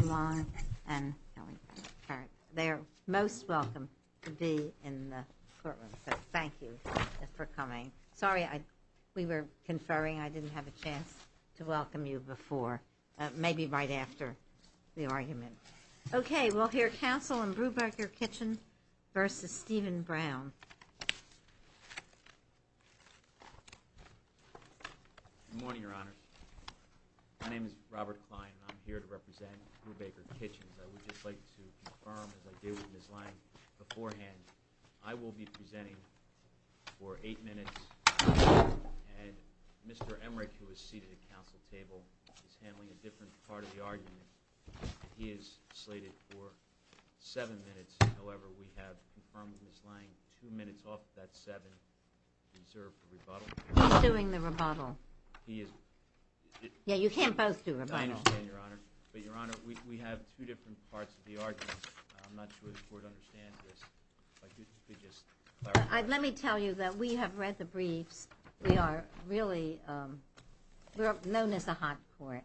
Good morning, Your Honor. My name is Robert Klein. I'm here to represent Brubaker Kitchens. I would just like to confirm, as I did with Ms. Lange beforehand, I will be presenting for eight minutes. And Mr. Emmerich, who is seated at the council table, is handling a different part of the argument. He is slated for seven minutes. However, we have confirmed with Ms. Lange two minutes off of that seven reserved for rebuttal. He's doing the rebuttal. Yeah, you can't both do rebuttal. I understand, Your Honor. But, Your Honor, we have two different parts of the argument. I'm not sure the Court understands this. If I could just clarify. Let me tell you that we have read the briefs. We are really known as a hot court.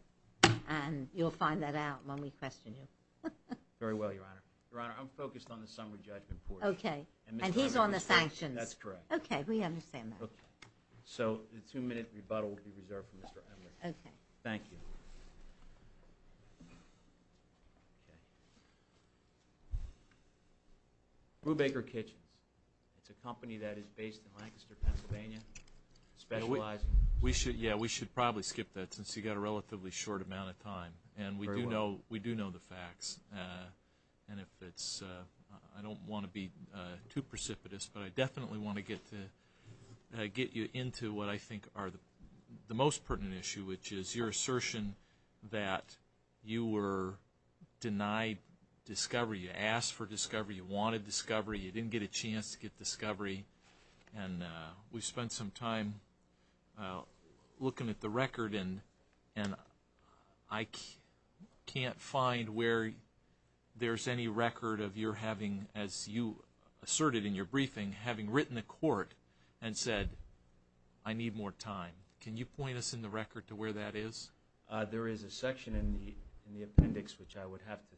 And you'll find that out when we question you. Very well, Your Honor. Your Honor, I'm focused on the summary judgment portion. Okay. And he's on the sanctions. That's correct. Okay, we understand that. Okay, so the two-minute rebuttal will be reserved for Mr. Emmerich. Okay. Thank you. Brubaker Kitchens. It's a company that is based in Lancaster, Pennsylvania, specializing. Yeah, we should probably skip that since you've got a relatively short amount of time. And we do know the facts. And I don't want to be too precipitous, but I definitely want to get you into what I think are the most pertinent issue, which is your assertion that you were denied discovery. You asked for discovery. You wanted discovery. You didn't get a chance to get discovery. And we spent some time looking at the record and I can't find where there's any record of your having, as you asserted in your briefing, having written to court and said, I need more time. Can you point us in the record to where that is? There is a section in the appendix, which I would have to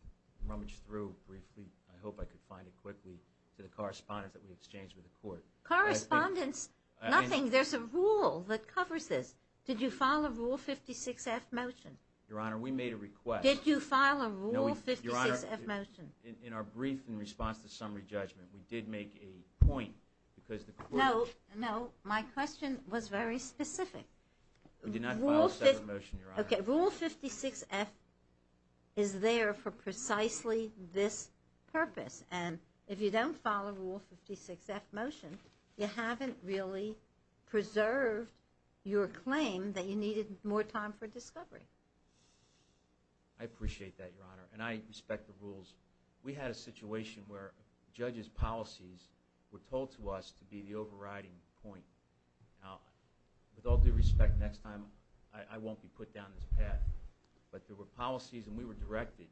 rummage through briefly. I hope I can find it quickly to the correspondence that we exchanged with the court. Correspondence? Nothing. There's a rule that covers this. Did you file a Rule 56-F motion? Your Honor, we made a request. Did you file a Rule 56-F motion? Your Honor, in our brief in response to summary judgment, we did make a point. No, no. My question was very specific. We did not file a separate motion, Your Honor. Okay, Rule 56-F is there for precisely this purpose. And if you don't file a Rule 56-F motion, you haven't really preserved your claim that you needed more time for discovery. I appreciate that, Your Honor, and I respect the rules. We had a situation where judges' policies were told to us to be the overriding point. Now, with all due respect, next time I won't be put down this path, but there were policies and we were directed,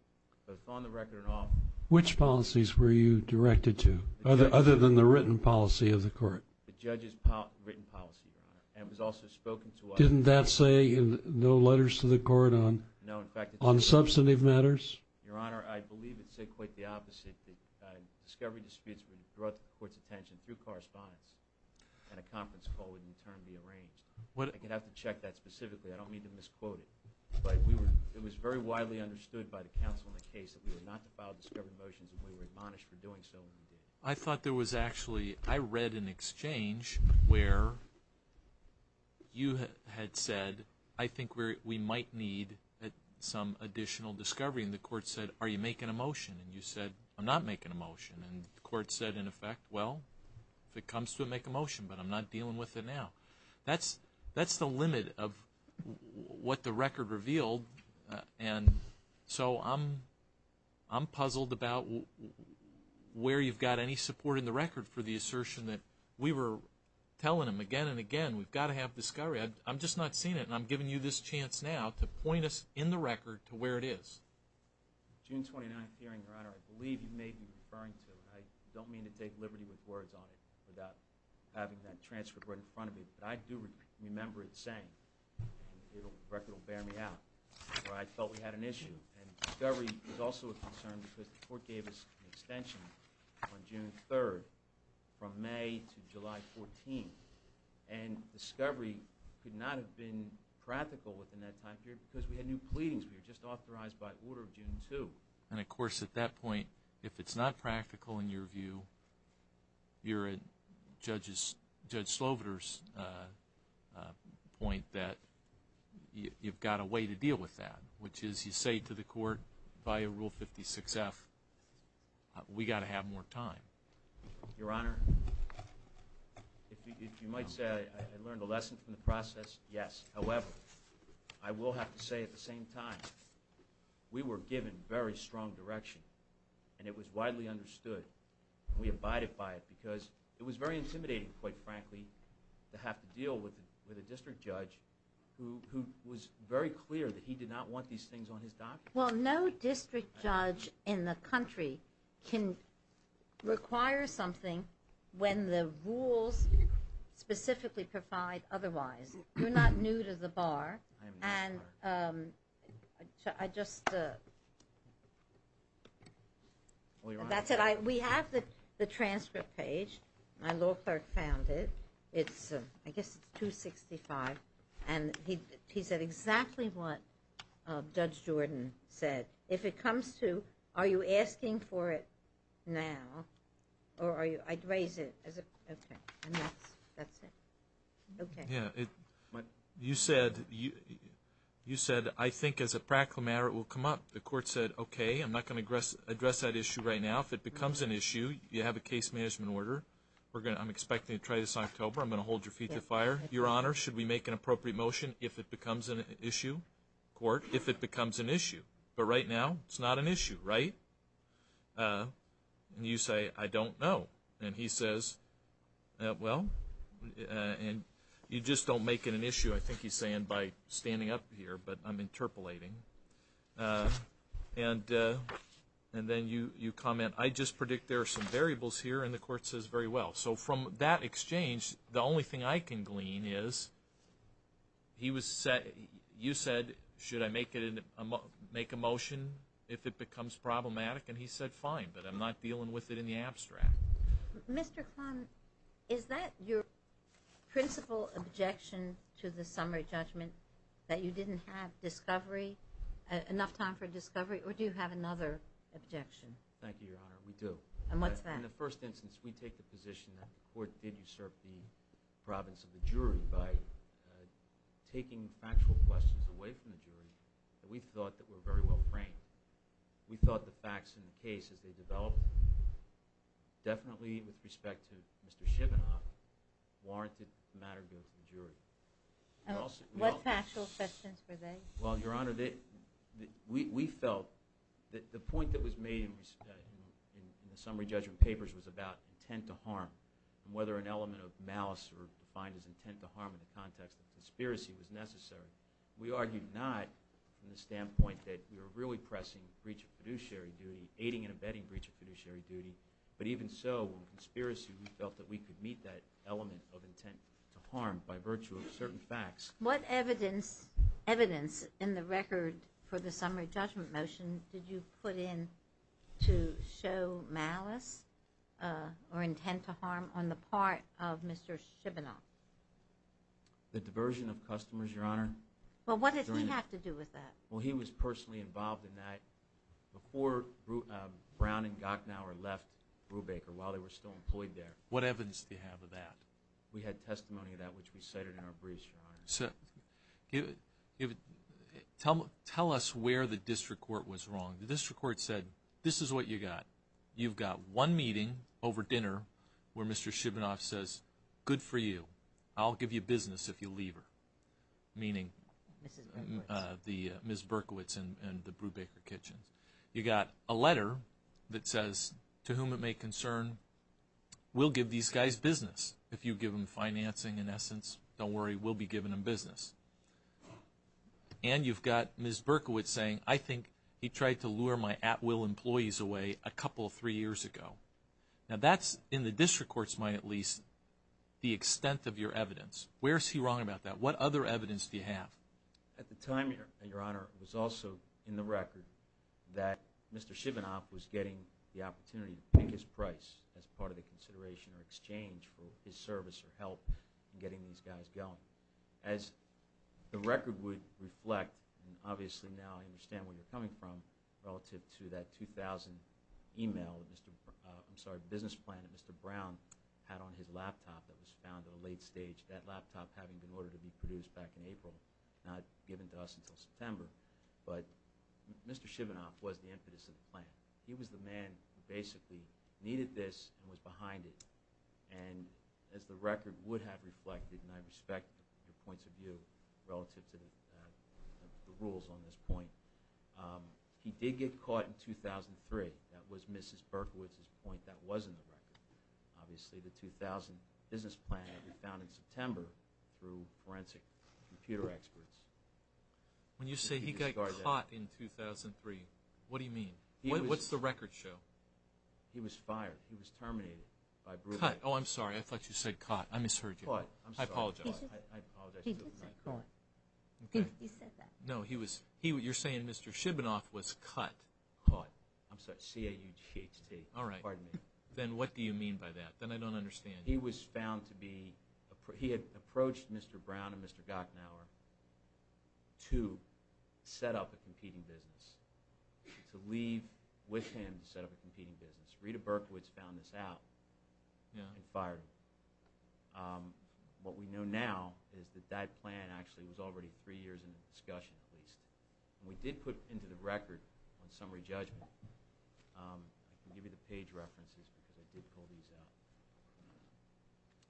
both on the record and off. Which policies were you directed to, other than the written policy of the court? The judges' written policy, Your Honor, and it was also spoken to us. Didn't that say in no letters to the court on substantive matters? No, in fact, it did. Your Honor, I believe it said quite the opposite, that discovery disputes were brought to the court's attention through correspondence and a conference call would in turn be arranged. I could have to check that specifically. I don't mean to misquote it, but it was very widely understood by the counsel in the case that we were not to file discovery motions and we were admonished for doing so and we did. I thought there was actually, I read an exchange where you had said, I think we might need some additional discovery, and the court said, are you making a motion? And you said, I'm not making a motion. And the court said, in effect, well, if it comes to it, make a motion, but I'm not dealing with it now. That's the limit of what the record revealed, and so I'm puzzled about where you've got any support in the record for the assertion that we were telling them again and again, we've got to have discovery. I'm just not seeing it, and I'm giving you this chance now to point us in the record to where it is. June 29th hearing, Your Honor, I believe you may be referring to it. I don't mean to take liberty with words on it without having that transferred right in front of me, but I do remember it saying, and the record will bear me out, where I felt we had an issue, and discovery was also a concern because the court gave us an extension on June 3rd from May to July 14th, and discovery could not have been practical within that time period because we had new pleadings. We were just authorized by order of June 2. And, of course, at that point, if it's not practical in your view, you're at Judge Sloviter's point that you've got a way to deal with that, which is you say to the court via Rule 56F, we've got to have more time. Your Honor, if you might say I learned a lesson from the process, yes. However, I will have to say at the same time, we were given very strong direction, and it was widely understood, and we abided by it because it was very intimidating, quite frankly, to have to deal with a district judge who was very clear that he did not want these things on his documents. Well, no district judge in the country can require something when the rules specifically provide otherwise. You're not new to the bar. I am new to the bar. And I just – that's it. We have the transcript page. My law clerk found it. I guess it's 265. And he said exactly what Judge Jordan said. If it comes to are you asking for it now or are you – I'd raise it. Okay. And that's it. Okay. Yeah. You said, I think as a practical matter it will come up. The court said, okay, I'm not going to address that issue right now. If it becomes an issue, you have a case management order. I'm expecting to try this in October. I'm going to hold your feet to the fire. Your Honor, should we make an appropriate motion if it becomes an issue? Court, if it becomes an issue. But right now it's not an issue, right? And you say, I don't know. And he says, well, you just don't make it an issue, I think he's saying, by standing up here, but I'm interpolating. And then you comment, I just predict there are some variables here. And the court says, very well. So from that exchange, the only thing I can glean is you said, should I make a motion if it becomes problematic? And he said, fine, but I'm not dealing with it in the abstract. Mr. Kline, is that your principal objection to the summary judgment, that you didn't have discovery, enough time for discovery? Or do you have another objection? Thank you, Your Honor. We do. And what's that? Well, in the first instance, we take the position that the court did usurp the province of the jury by taking factual questions away from the jury that we thought that were very well-framed. We thought the facts in the case as they developed, definitely with respect to Mr. Shivenoff, warranted the matter going to the jury. What factual questions were they? Well, Your Honor, we felt that the point that was made in the summary judgment papers was about intent to harm and whether an element of malice or defined as intent to harm in the context of conspiracy was necessary. We argued not in the standpoint that we were really pressing breach of fiduciary duty, aiding and abetting breach of fiduciary duty, but even so, in conspiracy, we felt that we could meet that element of intent to harm by virtue of certain facts. What evidence in the record for the summary judgment motion did you put in to show malice or intent to harm on the part of Mr. Shivenoff? The diversion of customers, Your Honor. Well, what did he have to do with that? Well, he was personally involved in that before Brown and Gachnauer left Brubaker while they were still employed there. What evidence do you have of that? We had testimony of that, which we cited in our briefs, Your Honor. Tell us where the district court was wrong. The district court said, this is what you got. You've got one meeting over dinner where Mr. Shivenoff says, good for you, I'll give you business if you leave her, meaning Ms. Berkowitz and the Brubaker kitchen. You got a letter that says, to whom it may concern, we'll give these guys business if you give them financing in essence. Don't worry, we'll be giving them business. And you've got Ms. Berkowitz saying, I think he tried to lure my at-will employees away a couple, three years ago. Now that's, in the district court's mind at least, the extent of your evidence. Where is he wrong about that? What other evidence do you have? At the time, Your Honor, it was also in the record that Mr. Shivenoff was getting the opportunity to pick his price as part of the consideration or exchange for his service or help in getting these guys going. As the record would reflect, and obviously now I understand where you're coming from, relative to that 2000 business plan that Mr. Brown had on his laptop that was found at a late stage, that laptop having been ordered to be produced back in April, not given to us until September. But Mr. Shivenoff was the impetus of the plan. He was the man who basically needed this and was behind it. And as the record would have reflected, and I respect your points of view relative to the rules on this point, he did get caught in 2003. That was Mrs. Berkowitz's point. That was in the record. Obviously the 2000 business plan that we found in September through forensic computer experts. When you say he got caught in 2003, what do you mean? What's the record show? He was fired. He was terminated by Brule. Caught. Oh, I'm sorry. I thought you said caught. I misheard you. Caught. I'm sorry. I apologize. He did say caught. He said that. No, you're saying Mr. Shivenoff was caught. Caught. I'm sorry, C-A-U-G-H-T. All right. Pardon me. Then what do you mean by that? Then I don't understand. He was found to be – he had approached Mr. Brown and Mr. Gochnour to set up a competing business, to leave with him to set up a competing business. Rita Berkowitz found this out and fired him. What we know now is that that plan actually was already three years in discussion, at least. We did put into the record on summary judgment –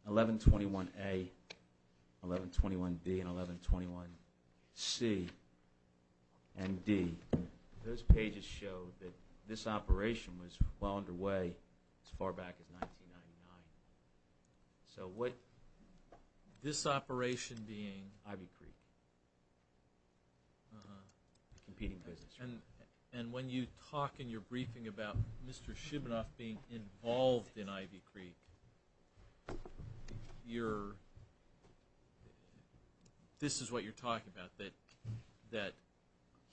1121-A, 1121-B, and 1121-C and D. Those pages show that this operation was well underway as far back as 1999. So what – This operation being? Ivy Creek. The competing business. And when you talk in your briefing about Mr. Shivenoff being involved in Ivy Creek, you're – this is what you're talking about, that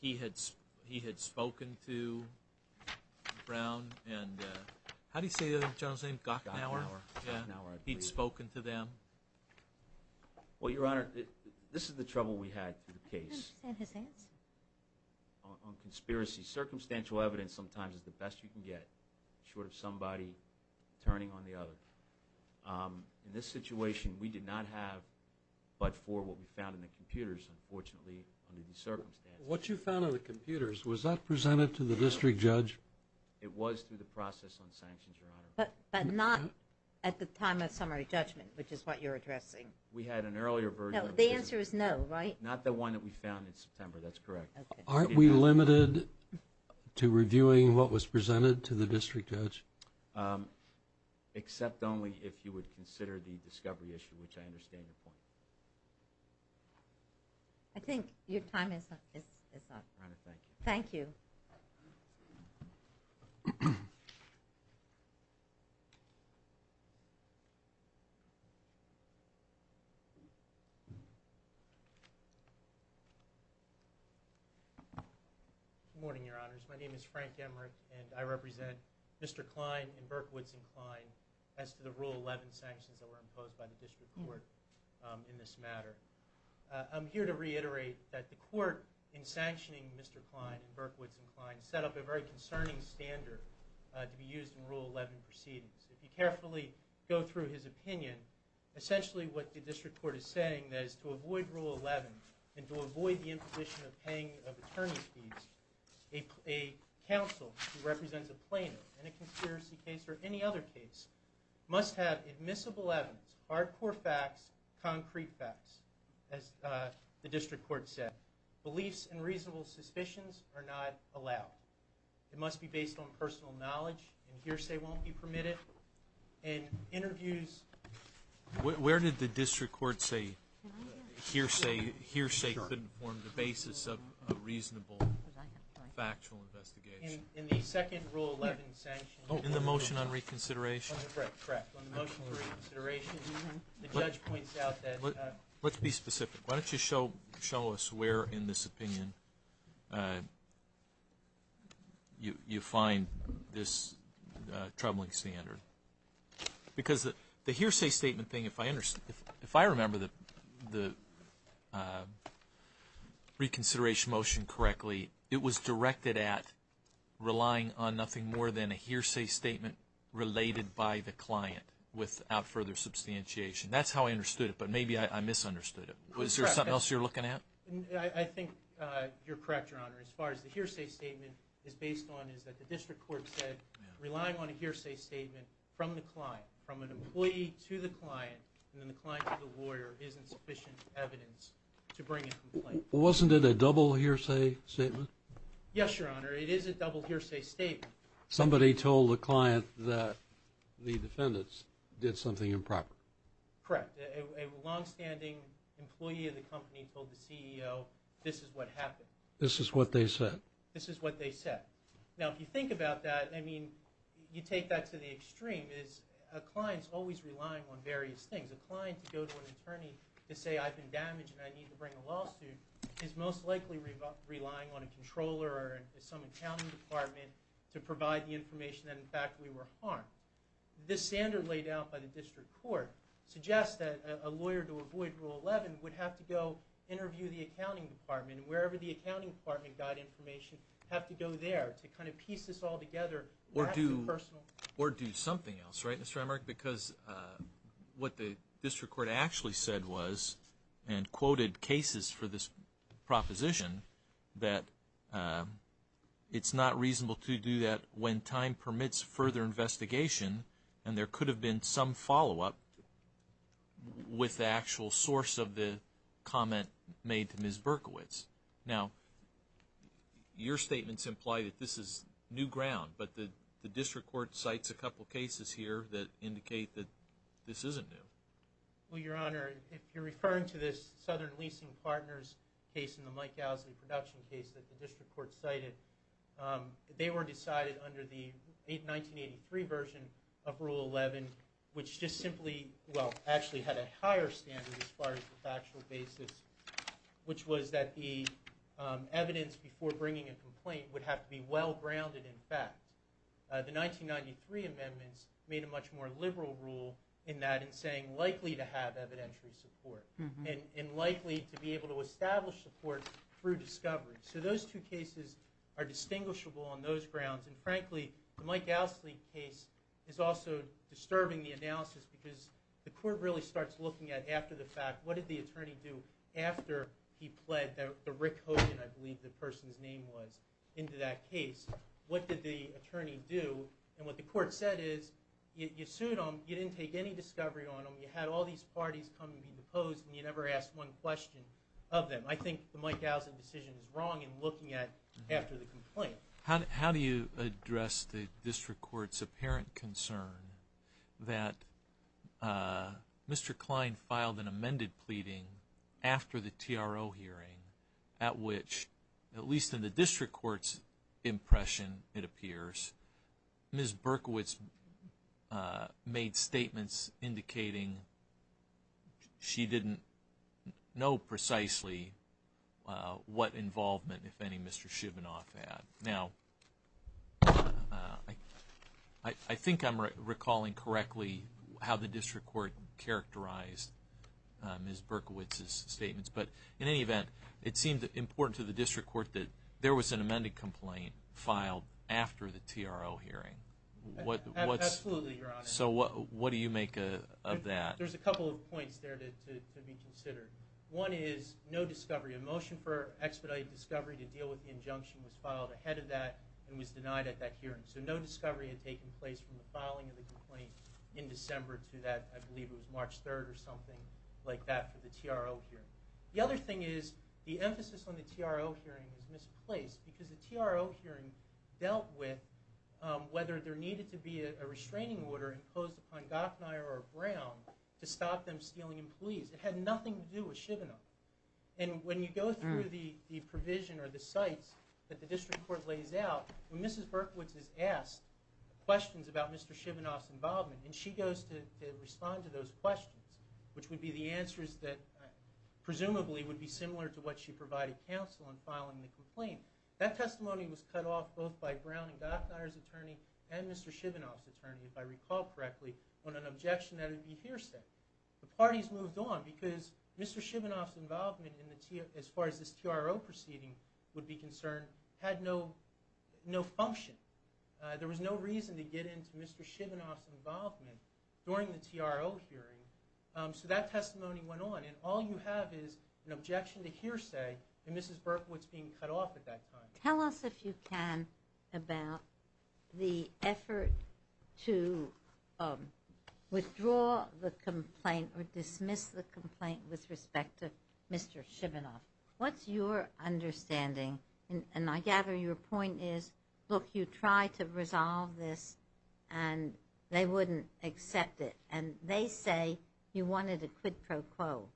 he had spoken to Brown and – how do you say the other gentleman's name? Gochnour. Gochnour. He'd spoken to them. Well, Your Honor, this is the trouble we had with the case. I don't understand his answer. On conspiracy. Circumstantial evidence sometimes is the best you can get, short of somebody turning on the other. In this situation, we did not have but for what we found in the computers, unfortunately, under these circumstances. What you found on the computers, was that presented to the district judge? It was through the process on sanctions, Your Honor. But not at the time of summary judgment, which is what you're addressing. We had an earlier version. No, the answer is no, right? Not the one that we found in September. That's correct. Okay. Aren't we limited to reviewing what was presented to the district judge? Except only if you would consider the discovery issue, which I understand your point. I think your time is up. Your Honor, thank you. Thank you. Good morning, Your Honors. My name is Frank Emmerich, and I represent Mr. Klein and Berkowitz and Klein as to the Rule 11 sanctions that were imposed by the district court in this matter. I'm here to reiterate that the court in sanctioning Mr. Klein and Berkowitz and Klein set up a very concerning standard to be used in Rule 11 proceedings. If you carefully go through his opinion, essentially what the district court is saying is to avoid Rule 11 and to avoid the imposition of paying of attorney's fees, a counsel who represents a plaintiff in a conspiracy case or any other case must have admissible evidence, hard core facts, concrete facts, as the district court said. Beliefs and reasonable suspicions are not allowed. It must be based on personal knowledge. And hearsay won't be permitted. And interviews. Where did the district court say hearsay couldn't form the basis of a reasonable factual investigation? In the second Rule 11 sanction. In the motion on reconsideration? Correct. On the motion on reconsideration, the judge points out that. Let's be specific. Why don't you show us where in this opinion you find this troubling standard? Because the hearsay statement thing, if I remember the reconsideration motion correctly, it was directed at relying on nothing more than a hearsay statement related by the client without further substantiation. That's how I understood it, but maybe I misunderstood it. Was there something else you were looking at? I think you're correct, Your Honor. As far as the hearsay statement is based on is that the district court said relying on a hearsay statement from the client, from an employee to the client, and then the client to the lawyer isn't sufficient evidence to bring a complaint. Wasn't it a double hearsay statement? Yes, Your Honor. It is a double hearsay statement. Somebody told the client that the defendants did something improper. Correct. A longstanding employee of the company told the CEO this is what happened. This is what they said. This is what they said. Now, if you think about that, I mean, you take that to the extreme. A client is always relying on various things. to go to an attorney to say I've been damaged and I need to bring a lawsuit is most likely relying on a controller or some accounting department to provide the information that, in fact, we were harmed. This standard laid out by the district court suggests that a lawyer to avoid Rule 11 would have to go interview the accounting department, and wherever the accounting department got information have to go there to kind of piece this all together. Or do something else, right, Mr. Emmerich? No, Your Honor, because what the district court actually said was and quoted cases for this proposition that it's not reasonable to do that when time permits further investigation, and there could have been some follow-up with the actual source of the comment made to Ms. Berkowitz. Now, your statements imply that this is new ground, but the district court cites a couple cases here that indicate that this isn't new. Well, Your Honor, if you're referring to this Southern Leasing Partners case and the Mike Gowsley production case that the district court cited, they were decided under the 1983 version of Rule 11, which just simply, well, actually had a higher standard as far as the factual basis, which was that the evidence before bringing a complaint would have to be well-grounded in fact. The 1993 amendments made a much more liberal rule in that in saying likely to have evidentiary support and likely to be able to establish support through discovery. So those two cases are distinguishable on those grounds, and frankly, the Mike Gowsley case is also disturbing the analysis because the court really starts looking at, after the fact, what did the attorney do after he pled the Rick Hogan, I believe the person's name was, into that case? What did the attorney do? And what the court said is you sued him, you didn't take any discovery on him, you had all these parties come and be deposed, and you never asked one question of them. I think the Mike Gowsley decision is wrong in looking at after the complaint. How do you address the district court's apparent concern that Mr. Klein filed an amended pleading after the TRO hearing at which, at least in the district court's impression it appears, Ms. Berkowitz made statements indicating she didn't know precisely what involvement, if any, Mr. Shibanoff had. Now, I think I'm recalling correctly how the district court characterized Ms. Berkowitz's statements. But in any event, it seemed important to the district court that there was an amended complaint filed after the TRO hearing. Absolutely, Your Honor. So what do you make of that? There's a couple of points there to be considered. One is no discovery. A motion for expedited discovery to deal with the injunction was filed ahead of that and was denied at that hearing. So no discovery had taken place from the filing of the complaint in December to that, I believe it was March 3rd or something like that for the TRO hearing. The other thing is the emphasis on the TRO hearing was misplaced because the TRO hearing dealt with whether there needed to be a restraining order imposed upon Gafneyer or Brown to stop them stealing employees. It had nothing to do with Shibanoff. And when you go through the provision or the sites that the district court lays out, when Mrs. Berkowitz is asked questions about Mr. Shibanoff's involvement and she goes to respond to those questions, which would be the answers that presumably would be similar to what she provided counsel in filing the complaint, that testimony was cut off both by Brown and Gafneyer's attorney and Mr. Shibanoff's attorney, if I recall correctly, on an objection that would be hearsay. The parties moved on because Mr. Shibanoff's involvement as far as this TRO proceeding would be concerned had no function. There was no reason to get into Mr. Shibanoff's involvement during the TRO hearing. So that testimony went on, and all you have is an objection to hearsay and Mrs. Berkowitz being cut off at that time. Tell us, if you can, about the effort to withdraw the complaint or dismiss the complaint with respect to Mr. Shibanoff. What's your understanding? And I gather your point is, look, you try to resolve this and they wouldn't accept it. And they say you wanted a quid pro quo.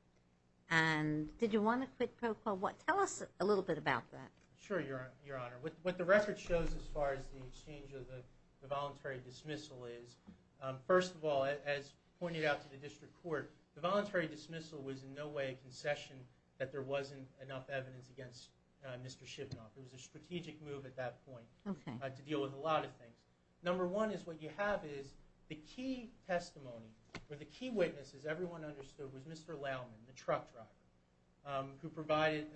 And did you want a quid pro quo? Tell us a little bit about that. Sure, Your Honor. What the record shows as far as the exchange of the voluntary dismissal is, first of all, as pointed out to the district court, the voluntary dismissal was in no way a concession that there wasn't enough evidence against Mr. Shibanoff. It was a strategic move at that point to deal with a lot of things. Number one is what you have is the key testimony or the key witnesses, everyone understood, was Mr. Laumann, the truck driver, who provided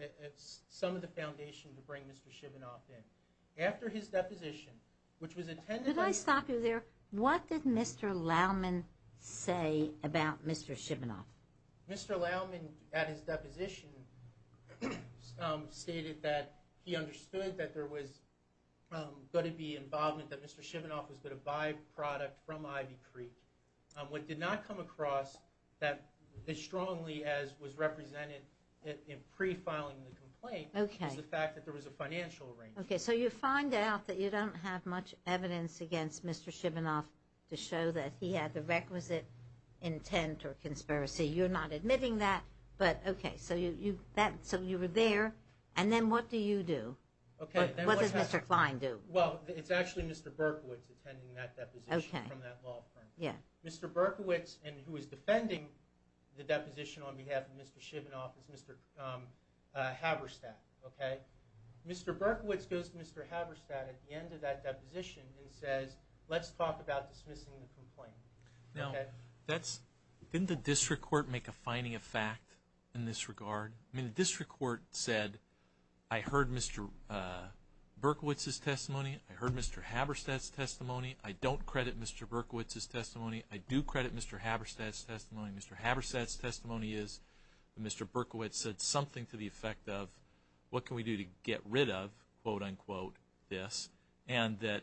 some of the foundation to bring Mr. Shibanoff in. After his deposition, which was attended by the... Could I stop you there? What did Mr. Laumann say about Mr. Shibanoff? Mr. Laumann, at his deposition, stated that he understood that there was going to be involvement, that Mr. Shibanoff was going to be a byproduct from Ivy Creek. What did not come across as strongly as was represented in pre-filing the complaint was the fact that there was a financial arrangement. Okay, so you find out that you don't have much evidence against Mr. Shibanoff to show that he had the requisite intent or conspiracy. You're not admitting that, but okay. So you were there, and then what do you do? What does Mr. Kline do? Well, it's actually Mr. Berkowitz attending that deposition from that law firm. Mr. Berkowitz, who is defending the deposition on behalf of Mr. Shibanoff, is Mr. Haverstadt. Mr. Berkowitz goes to Mr. Haverstadt at the end of that deposition and says, let's talk about dismissing the complaint. Now, didn't the district court make a finding of fact in this regard? I mean, the district court said, I heard Mr. Berkowitz's testimony. I heard Mr. Haverstadt's testimony. I don't credit Mr. Berkowitz's testimony. I do credit Mr. Haverstadt's testimony. Mr. Haverstadt's testimony is that Mr. Berkowitz said something to the effect of, what can we do to get rid of, quote, unquote, this, and that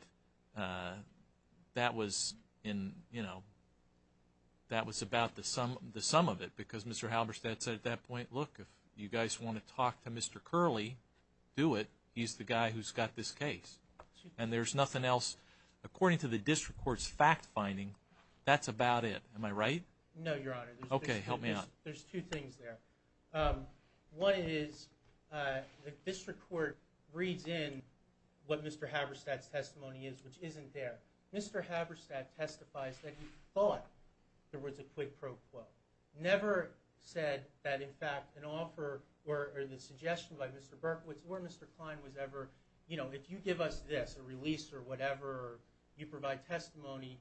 that was about the sum of it because Mr. Haverstadt said at that point, look, if you guys want to talk to Mr. Curley, do it. He's the guy who's got this case. And there's nothing else. According to the district court's fact finding, that's about it. Am I right? No, Your Honor. Okay, help me out. There's two things there. One is the district court reads in what Mr. Haverstadt's testimony is, which isn't there. Mr. Haverstadt testifies that he thought there was a quid pro quo, never said that, in fact, an offer or the suggestion by Mr. Berkowitz or Mr. Klein was ever, you know, if you give us this, a release or whatever, you provide testimony,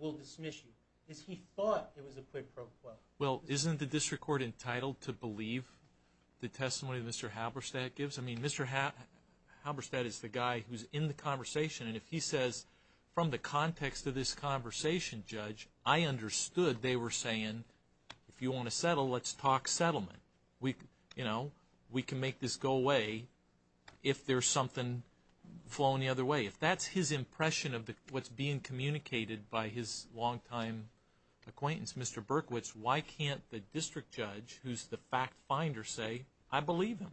we'll dismiss you. He thought it was a quid pro quo. Well, isn't the district court entitled to believe the testimony Mr. Haverstadt gives? I mean, Mr. Haverstadt is the guy who's in the conversation, and if he says from the context of this conversation, Judge, I understood they were saying if you want to settle, let's talk settlement. You know, we can make this go away if there's something flowing the other way. If that's his impression of what's being communicated by his longtime acquaintance, Mr. Berkowitz, why can't the district judge, who's the fact finder, say, I believe him?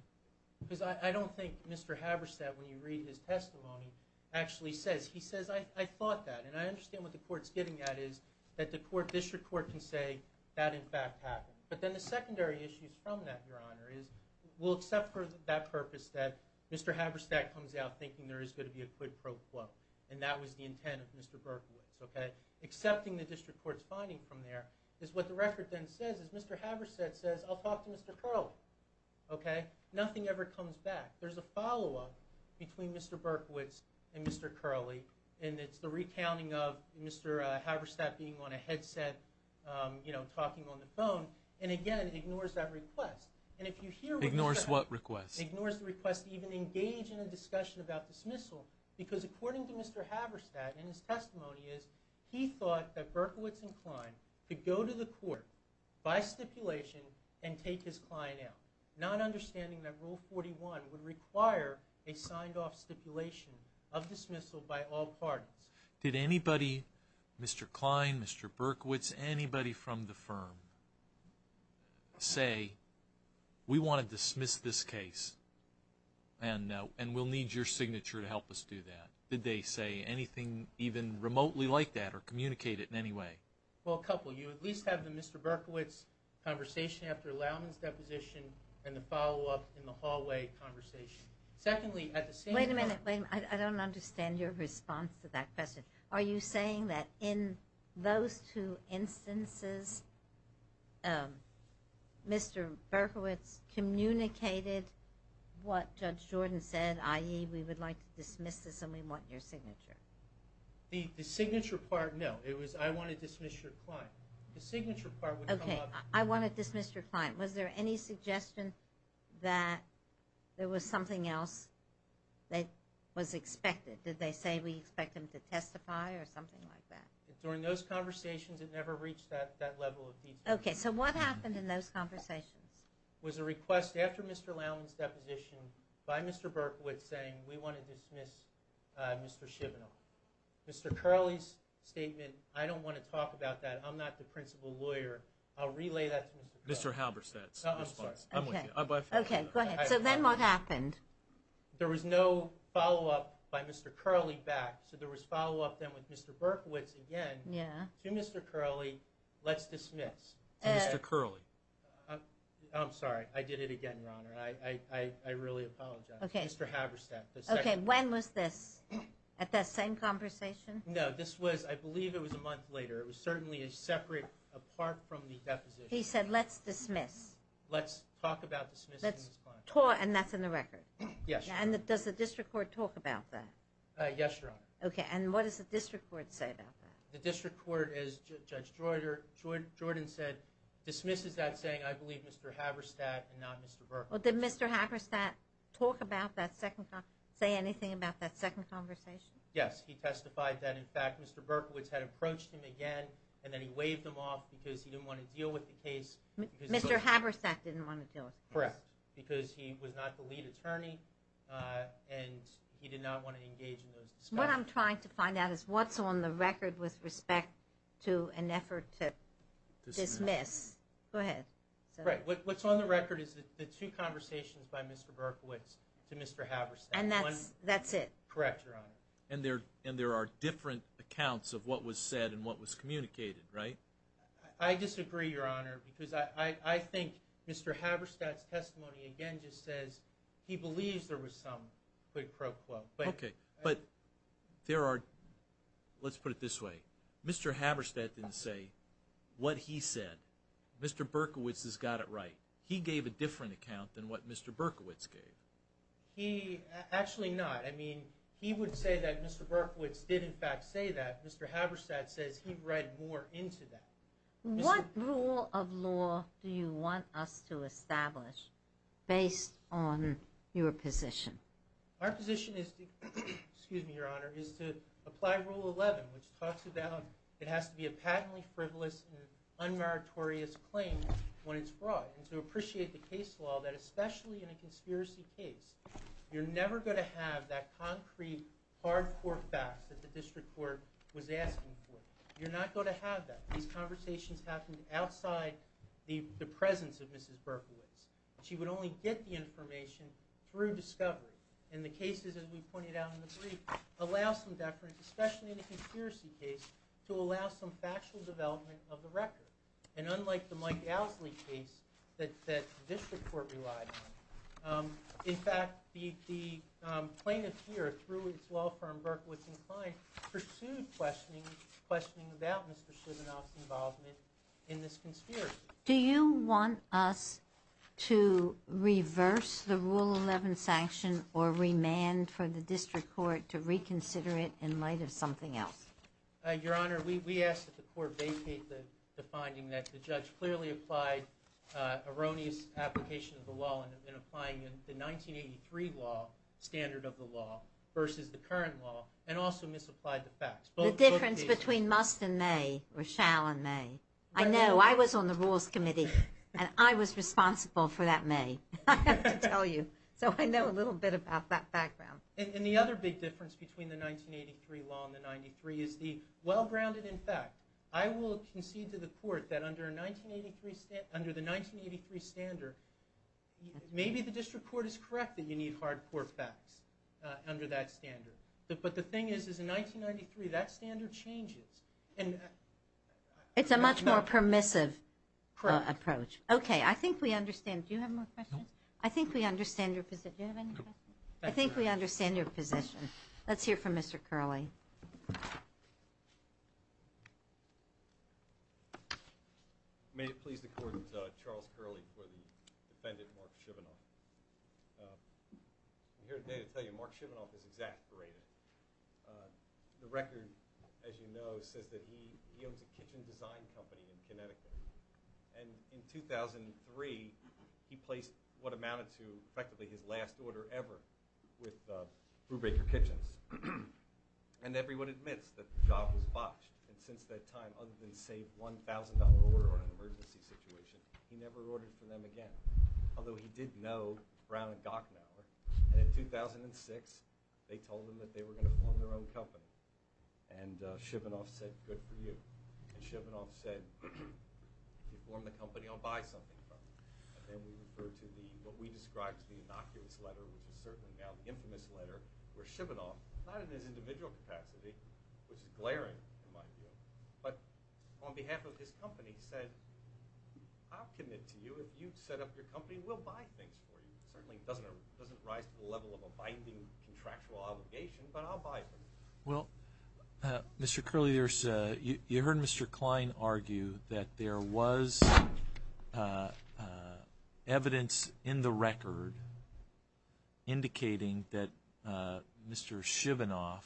Because I don't think Mr. Haverstadt, when you read his testimony, actually says, he says, I thought that, and I understand what the court's getting at is that the court, district court can say that, in fact, happened. But then the secondary issues from that, Your Honor, is we'll accept for that purpose that Mr. Haverstadt comes out thinking there is going to be a quid pro quo, and that was the intent of Mr. Berkowitz. Okay? Accepting the district court's finding from there, is what the record then says is Mr. Haverstadt says, I'll talk to Mr. Curley. Okay? Nothing ever comes back. There's a follow-up between Mr. Berkowitz and Mr. Curley, and it's the recounting of Mr. Haverstadt being on a headset, you know, talking on the phone. And again, it ignores that request. And if you hear the request. Ignores what request? Ignores the request to even engage in a discussion about dismissal, because according to Mr. Haverstadt, and his testimony is, he thought that Berkowitz and Kline could go to the court by stipulation and take his client out, not understanding that Rule 41 would require a signed-off stipulation of dismissal by all parties. Did anybody, Mr. Kline, Mr. Berkowitz, anybody from the firm, say we want to dismiss this case and we'll need your signature to help us do that? Did they say anything even remotely like that or communicate it in any way? Well, a couple. You at least have the Mr. Berkowitz conversation after Allowman's deposition and the follow-up in the hallway conversation. Secondly, at the same time. Wait a minute. Wait a minute. I don't understand your response to that question. Are you saying that in those two instances, Mr. Berkowitz communicated what Judge Jordan said, i.e., we would like to dismiss this and we want your signature? The signature part, no. It was I want to dismiss your client. The signature part would come up. Okay. I want to dismiss your client. Was there any suggestion that there was something else that was expected? Did they say we expect him to testify or something like that? During those conversations, it never reached that level of detail. Okay. So what happened in those conversations? It was a request after Mr. Allowman's deposition by Mr. Berkowitz saying, we want to dismiss Mr. Shivenel. Mr. Curley's statement, I don't want to talk about that. I'm not the principal lawyer. I'll relay that to Mr. Curley. Mr. Halberstadt. I'm with you. Okay. Go ahead. So then what happened? There was no follow-up by Mr. Curley back, so there was follow-up then with Mr. Berkowitz again to Mr. Curley, let's dismiss. To Mr. Curley. I'm sorry. I did it again, Your Honor. I really apologize. Mr. Halberstadt. Okay. When was this? At that same conversation? No, this was, I believe it was a month later. It was certainly a separate, apart from the deposition. He said, let's dismiss. Let's talk about dismissing this client. And that's in the record? Yes, Your Honor. And does the district court talk about that? Yes, Your Honor. Okay. And what does the district court say about that? The district court, as Judge Jordan said, dismisses that saying, I believe Mr. Halberstadt and not Mr. Berkowitz. Well, did Mr. Halberstadt talk about that second, say anything about that second conversation? Yes. He testified that, in fact, Mr. Berkowitz had approached him again, and then he waved him off because he didn't want to deal with the case. Mr. Halberstadt didn't want to deal with the case. Correct. Because he was not the lead attorney, and he did not want to engage in those discussions. What I'm trying to find out is what's on the record with respect to an effort to dismiss. Go ahead. Right. What's on the record is the two conversations by Mr. Berkowitz to Mr. Halberstadt. And that's it? Correct, Your Honor. And there are different accounts of what was said and what was communicated, right? I disagree, Your Honor, because I think Mr. Halberstadt's testimony, again, just says he believes there was some quid pro quo. Okay. But there are, let's put it this way. Mr. Halberstadt didn't say what he said. Mr. Berkowitz has got it right. He gave a different account than what Mr. Berkowitz gave. Actually not. I mean, he would say that Mr. Berkowitz did, in fact, say that. Mr. Halberstadt says he read more into that. What rule of law do you want us to establish based on your position? Our position is to, excuse me, Your Honor, is to apply Rule 11, which talks about it has to be a patently frivolous and unmeritorious claim when it's fraud. And to appreciate the case law that, especially in a conspiracy case, you're never going to have that concrete, hardcore fact that the district court was asking for. You're not going to have that. These conversations happened outside the presence of Mrs. Berkowitz. She would only get the information through discovery. And the cases, as we pointed out in the brief, allow some deference, especially in a conspiracy case, to allow some factual development of the record. And unlike the Mike Galsley case that the district court relied on, in fact, the plaintiff here, through its law firm, Berkowitz & Kline, pursued questioning about Mr. Chisholm's involvement in this conspiracy. Do you want us to reverse the Rule 11 sanction or remand for the district court to reconsider it in light of something else? Your Honor, we ask that the court vacate the finding that the judge clearly applied an erroneous application of the law in applying the 1983 law standard of the law versus the current law, and also misapplied the facts. The difference between must and may, or shall and may. I know. I was on the Rules Committee, and I was responsible for that may. I have to tell you. So I know a little bit about that background. And the other big difference between the 1983 law and the 93 is the well-grounded in fact. I will concede to the court that under the 1983 standard, maybe the district court is correct that you need hard court facts under that standard. But the thing is, is in 1993, that standard changes. It's a much more permissive approach. Okay. I think we understand. Do you have more questions? No. I think we understand your position. Do you have any questions? No. I think we understand your position. Let's hear from Mr. Curley. May it please the Court, Charles Curley for the defendant, Mark Shivenoff. I'm here today to tell you Mark Shivenoff is exaggerated. The record, as you know, says that he owns a kitchen design company in Connecticut. And in 2003, he placed what amounted to effectively his last order ever with Brubaker Kitchens. And everyone admits that the job was botched. And since that time, other than save $1,000 order in an emergency situation, he never ordered for them again. Although he did know Brown and Gochnow. And in 2006, they told him that they were going to form their own company. And Shivenoff said, good for you. And Shivenoff said, if you form the company, I'll buy something from you. And then we refer to what we describe as the innocuous letter, which is certainly now the infamous letter, where Shivenoff, not in his individual capacity, which is glaring in my view, but on behalf of his company said, I'll commit to you. If you set up your company, we'll buy things for you. It certainly doesn't rise to the level of a binding contractual obligation, but I'll buy them. Well, Mr. Curley, you heard Mr. Klein argue that there was evidence in the record indicating that Mr. Shivenoff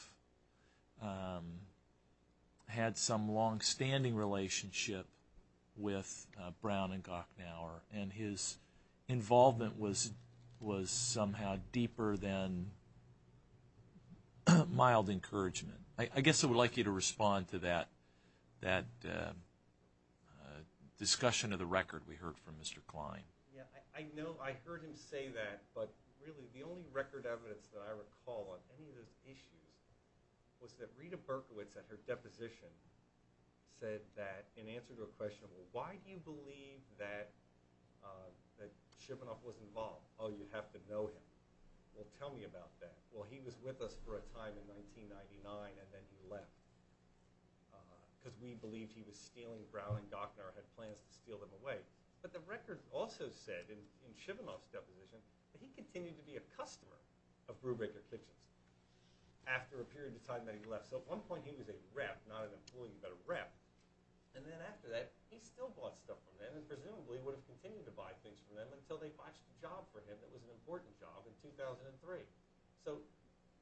had some longstanding relationship with Brown and Gochnow. And his involvement was somehow deeper than mild encouragement. I guess I would like you to respond to that discussion of the record we heard from Mr. Klein. I heard him say that, but really the only record evidence that I recall on any of those issues was that Rita Berkowitz at her deposition said that in answer to a question, well, why do you believe that Shivenoff was involved? Oh, you have to know him. Well, tell me about that. Well, he was with us for a time in 1999 and then he left because we believed he was stealing Brown and Gochnow and had plans to steal them away. But the record also said in Shivenoff's deposition that he continued to be a customer of Brubaker Kitchens after a period of time that he left. So at one point he was a rep, not an employee, but a rep. And then after that he still bought stuff from them and presumably would have continued to buy things from them until they watched a job for him that was an important job in 2003. So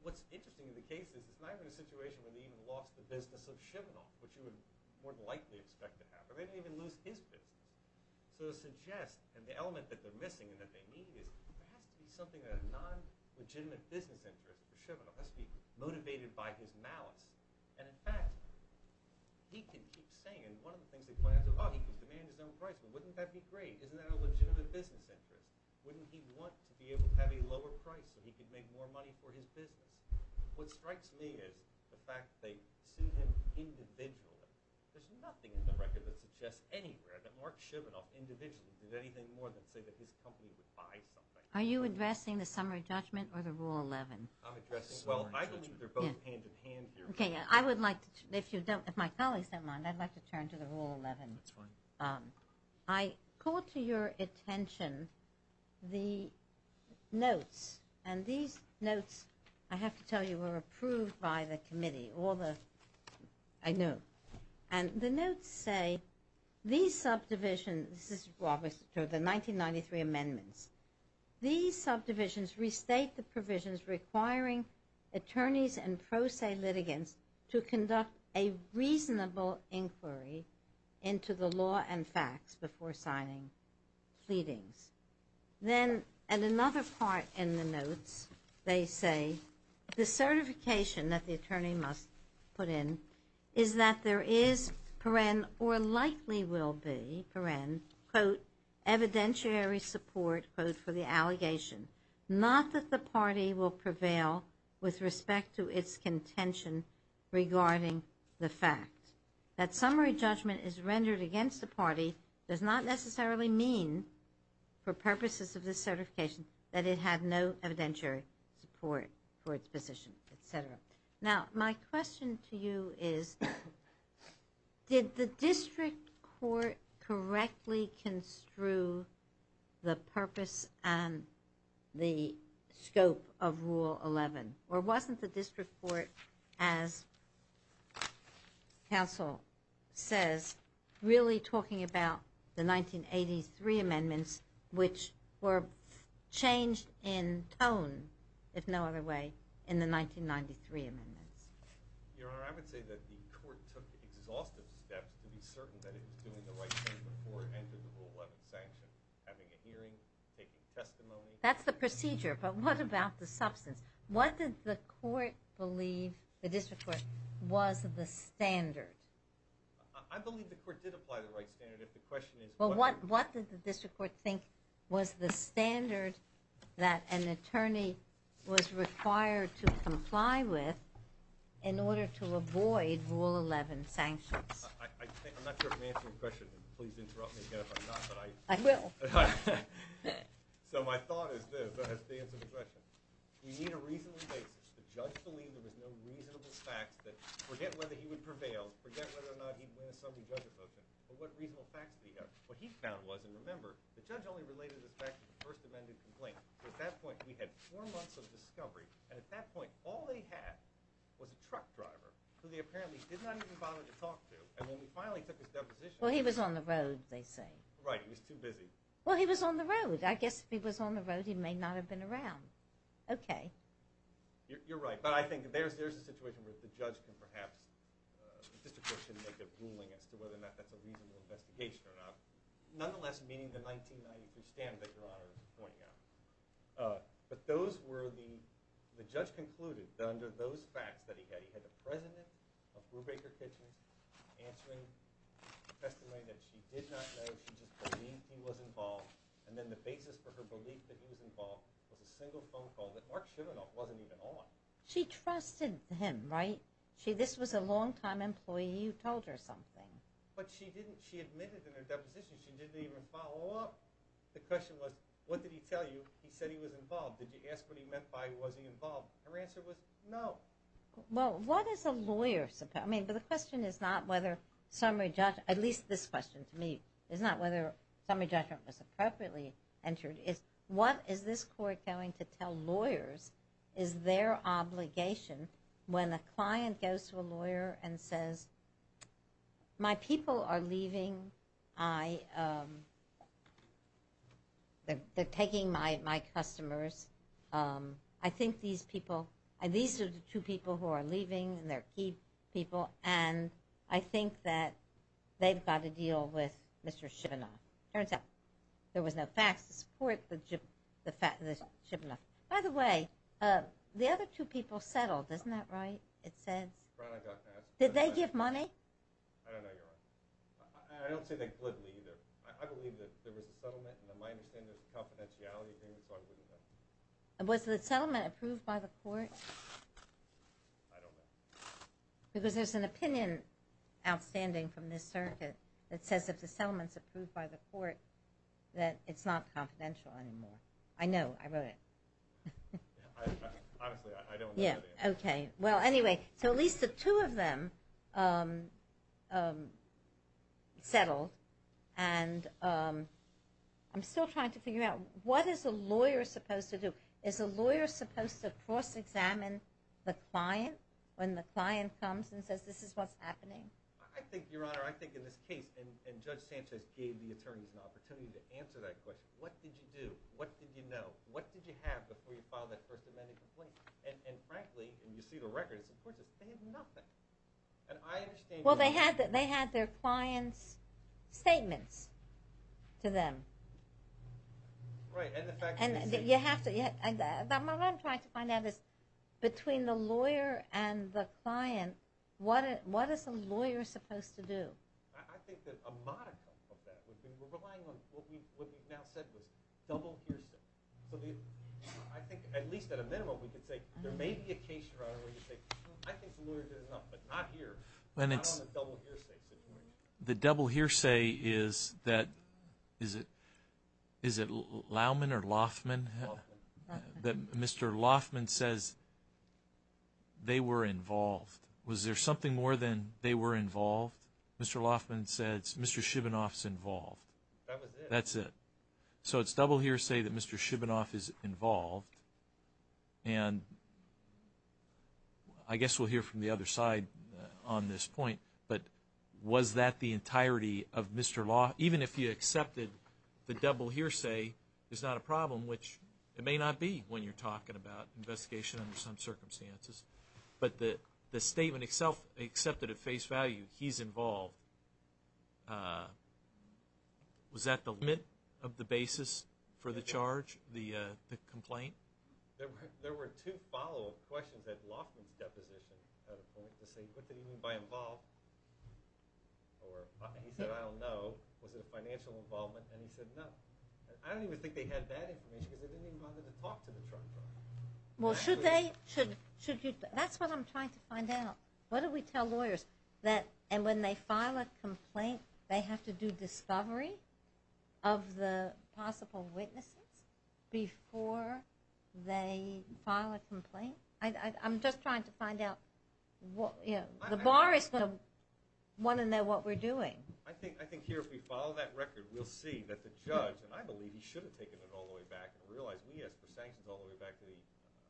what's interesting in the case is it's not even a situation where they even lost the business of Shivenoff, which you would more than likely expect to happen. They didn't even lose his business. So to suggest that the element that they're missing and that they need is there has to be something that a non-legitimate business interest for Shivenoff has to be motivated by his malice. And in fact, he could keep saying, and one of the things they planned, oh, he could demand his own price. Well, wouldn't that be great? Isn't that a legitimate business interest? Wouldn't he want to be able to have a lower price so he could make more money for his business? What strikes me is the fact that they sued him individually. There's nothing in the record that suggests anywhere that Mark Shivenoff individually did anything more than say that his company would buy something. Are you addressing the summary judgment or the Rule 11? I'm addressing the summary judgment. Well, I believe they're both hand-in-hand here. Okay, I would like to, if my colleagues don't mind, I'd like to turn to the Rule 11. That's fine. I call to your attention the notes, and these notes, I have to tell you, were approved by the committee. All the, I know. And the notes say, these subdivisions, this is, well, the 1993 amendments. These subdivisions restate the provisions requiring attorneys and pro se litigants to conduct a reasonable inquiry into the law and facts before signing pleadings. Then, and another part in the notes, they say, the certification that the attorney must put in is that there is, or likely will be, quote, evidentiary support, quote, for the allegation. Not that the party will prevail with respect to its contention regarding the fact. That summary judgment is rendered against the party does not necessarily mean, for purposes of this certification, that it had no evidentiary support for its position, et cetera. Now, my question to you is, did the district court correctly construe the purpose and the scope of Rule 11? Or wasn't the district court, as counsel says, really talking about the 1983 amendments, which were changed in tone, if no other way, in the 1993 amendments? Your Honor, I would say that the court took exhaustive steps to be certain that it was doing the right thing before it entered the Rule 11 sanction, having a hearing, taking testimony. That's the procedure, but what about the substance? What did the court believe, the district court, was the standard? I believe the court did apply the right standard. If the question is what did the district court think was the standard that an attorney was required to comply with in order to avoid Rule 11 sanctions? I'm not sure if I'm answering the question. Please interrupt me again if I'm not, but I... I will. So my thought is this, as to the answer to the question. We need a reasonable basis. The judge believed there was no reasonable facts that, forget whether he would prevail, forget whether or not he'd win a summary judgment motion, but what reasonable facts did he have? What he found was, and remember, the judge only related this back to the first amended complaint. At that point, we had four months of discovery, and at that point, all they had was a truck driver who they apparently did not even bother to talk to, and when we finally took his deposition... Well, he was on the road, they say. Right, he was too busy. Well, he was on the road. I guess if he was on the road, he may not have been around. Okay. You're right, but I think there's a situation where the judge can perhaps... make a ruling as to whether or not that's a reasonable investigation or not, nonetheless meeting the 1993 standard that Your Honor is pointing out. But those were the... The judge concluded that under those facts that he had, he had the president of Brubaker Kitchens answering testimony that she did not know, she just believed he was involved, and then the basis for her belief that he was involved was a single phone call that Mark Chivinoff wasn't even on. She trusted him, right? This was a long-time employee, you told her something. But she admitted in her deposition she didn't even follow up. The question was, what did he tell you? He said he was involved. Did you ask what he meant by he wasn't involved? Her answer was no. Well, what is a lawyer supposed... I mean, but the question is not whether summary judge... At least this question to me is not whether summary judgment was appropriately entered. What is this court going to tell lawyers is their obligation when a client goes to a lawyer and says, my people are leaving, they're taking my customers, I think these people... These are the two people who are leaving, and they're key people, and I think that they've got to deal with Mr. Chivinoff. Turns out there was no facts to support the Chivinoff. By the way, the other two people settled, isn't that right? It says. Did they give money? I don't know, Your Honor. I don't say that glibly either. I believe that there was a settlement, and in my understanding there was a confidentiality agreement, so I wouldn't know. Was the settlement approved by the court? I don't know. Because there's an opinion outstanding from this circuit that says if the settlement's approved by the court, that it's not confidential anymore. I know, I wrote it. Honestly, I don't know. Okay. Well, anyway, so at least the two of them settled, and I'm still trying to figure out what is a lawyer supposed to do? Is a lawyer supposed to cross-examine the client when the client comes and says this is what's happening? I think, Your Honor, I think in this case, and Judge Sanchez gave the attorneys an opportunity to answer that question, what did you do? What did you know? What did you have before you filed that First Amendment complaint? And frankly, and you see the record, it's important to say nothing. Well, they had their client's statements to them. Right, and the fact that they said it. What I'm trying to find out is between the lawyer and the client, what is a lawyer supposed to do? I think that a modicum of that would be relying on what we've now said was double hearsay. So I think at least at a minimum we could say there may be a case, Your Honor, where you say, I think the lawyer did enough, but not here. Not on the double hearsay situation. The double hearsay is that, is it Loughman or Loughman? Loughman. Mr. Loughman says they were involved. Was there something more than they were involved? Mr. Loughman says Mr. Shibanoff's involved. That was it. That's it. So it's double hearsay that Mr. Shibanoff is involved. And I guess we'll hear from the other side on this point, but was that the entirety of Mr. Loughman? Even if you accepted the double hearsay is not a problem, which it may not be when you're talking about investigation under some circumstances. But the statement itself, accepted at face value, he's involved, was that the limit of the basis for the charge, the complaint? There were two follow-up questions at Loughman's deposition. What did he mean by involved? He said, I don't know. Was it a financial involvement? And he said, no. I don't even think they had that information because they didn't even bother to talk to the charge. Well, should they? That's what I'm trying to find out. What do we tell lawyers? That when they file a complaint, they have to do discovery of the possible witnesses before they file a complaint? I'm just trying to find out. The bar is going to want to know what we're doing. I think here if we follow that record, we'll see that the judge, and I believe he should have taken it all the way back and realized we asked for sanctions all the way back to the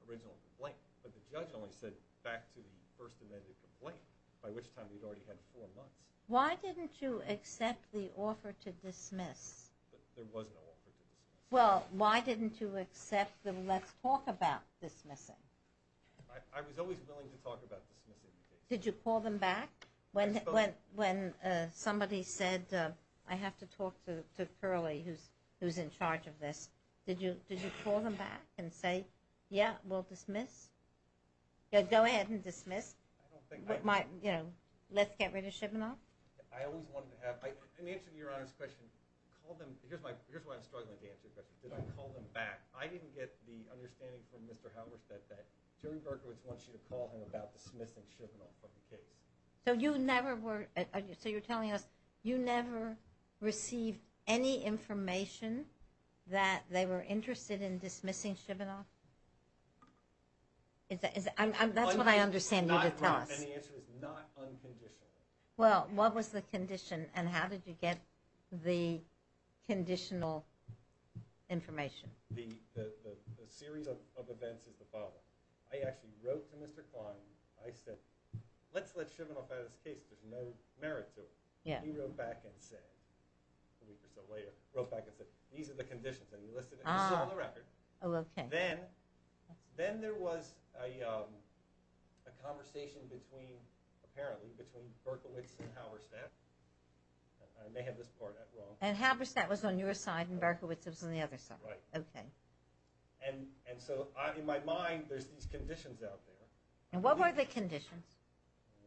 original complaint. But the judge only said back to the first amended complaint, by which time he'd already had four months. Why didn't you accept the offer to dismiss? There was no offer to dismiss. Well, why didn't you accept the let's talk about dismissing? I was always willing to talk about dismissing. Did you call them back? When somebody said, I have to talk to Curley, who's in charge of this, did you call them back and say, yeah, we'll dismiss? Go ahead and dismiss. Let's get rid of Shivenoff? I always wanted to have an answer to Your Honor's question. Here's why I'm struggling to answer your question. Did I call them back? I didn't get the understanding from Mr. Howard that Jerry Berkowitz wants you to call him without dismissing Shivenoff from the case. So you never were, so you're telling us you never received any information that they were interested in dismissing Shivenoff? That's what I understand you to tell us. And the answer is not unconditionally. Well, what was the condition and how did you get the conditional information? The series of events is the following. I actually wrote to Mr. Kline. I said, let's let Shivenoff out of this case. There's no merit to it. He wrote back and said, a week or so later, wrote back and said, these are the conditions, and he listed it. It's still on the record. Then there was a conversation, apparently, between Berkowitz and Halberstadt. I may have this part wrong. And Halberstadt was on your side and Berkowitz was on the other side. Right. Okay. And so in my mind, there's these conditions out there. And what were the conditions?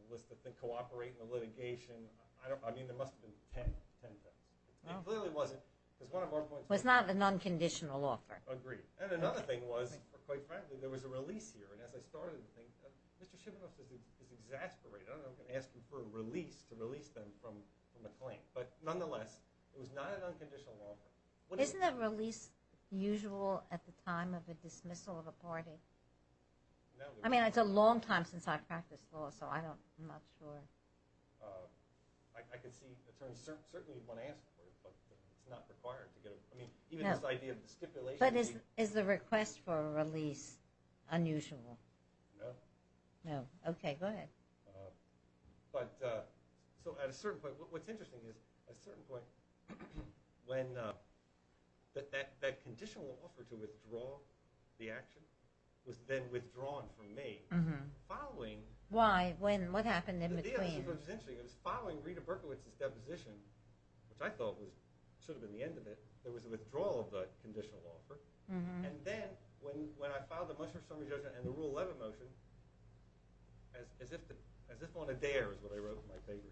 It was to cooperate in the litigation. I mean, there must have been ten of them. It clearly wasn't. It was not an unconditional offer. Agreed. And another thing was, quite frankly, there was a release here. And as I started to think, Mr. Shivenoff is exasperated. I don't know if I'm going to ask him for a release to release them from the claim. But nonetheless, it was not an unconditional offer. Isn't a release usual at the time of a dismissal of a party? No. I mean, it's a long time since I've practiced law, so I'm not sure. I can see certainly you'd want to ask for it, but it's not required. I mean, even this idea of the stipulation. But is the request for a release unusual? No. No. Okay, go ahead. So at a certain point, what's interesting is at a certain point, when that conditional offer to withdraw the action was then withdrawn from me. Why? What happened in between? It was following Rita Berkowitz's deposition, which I thought should have been the end of it. There was a withdrawal of the conditional offer. And then when I filed the Mushroom Summary Judgment and the Rule 11 motion, as if on a dare is what I wrote in my paper,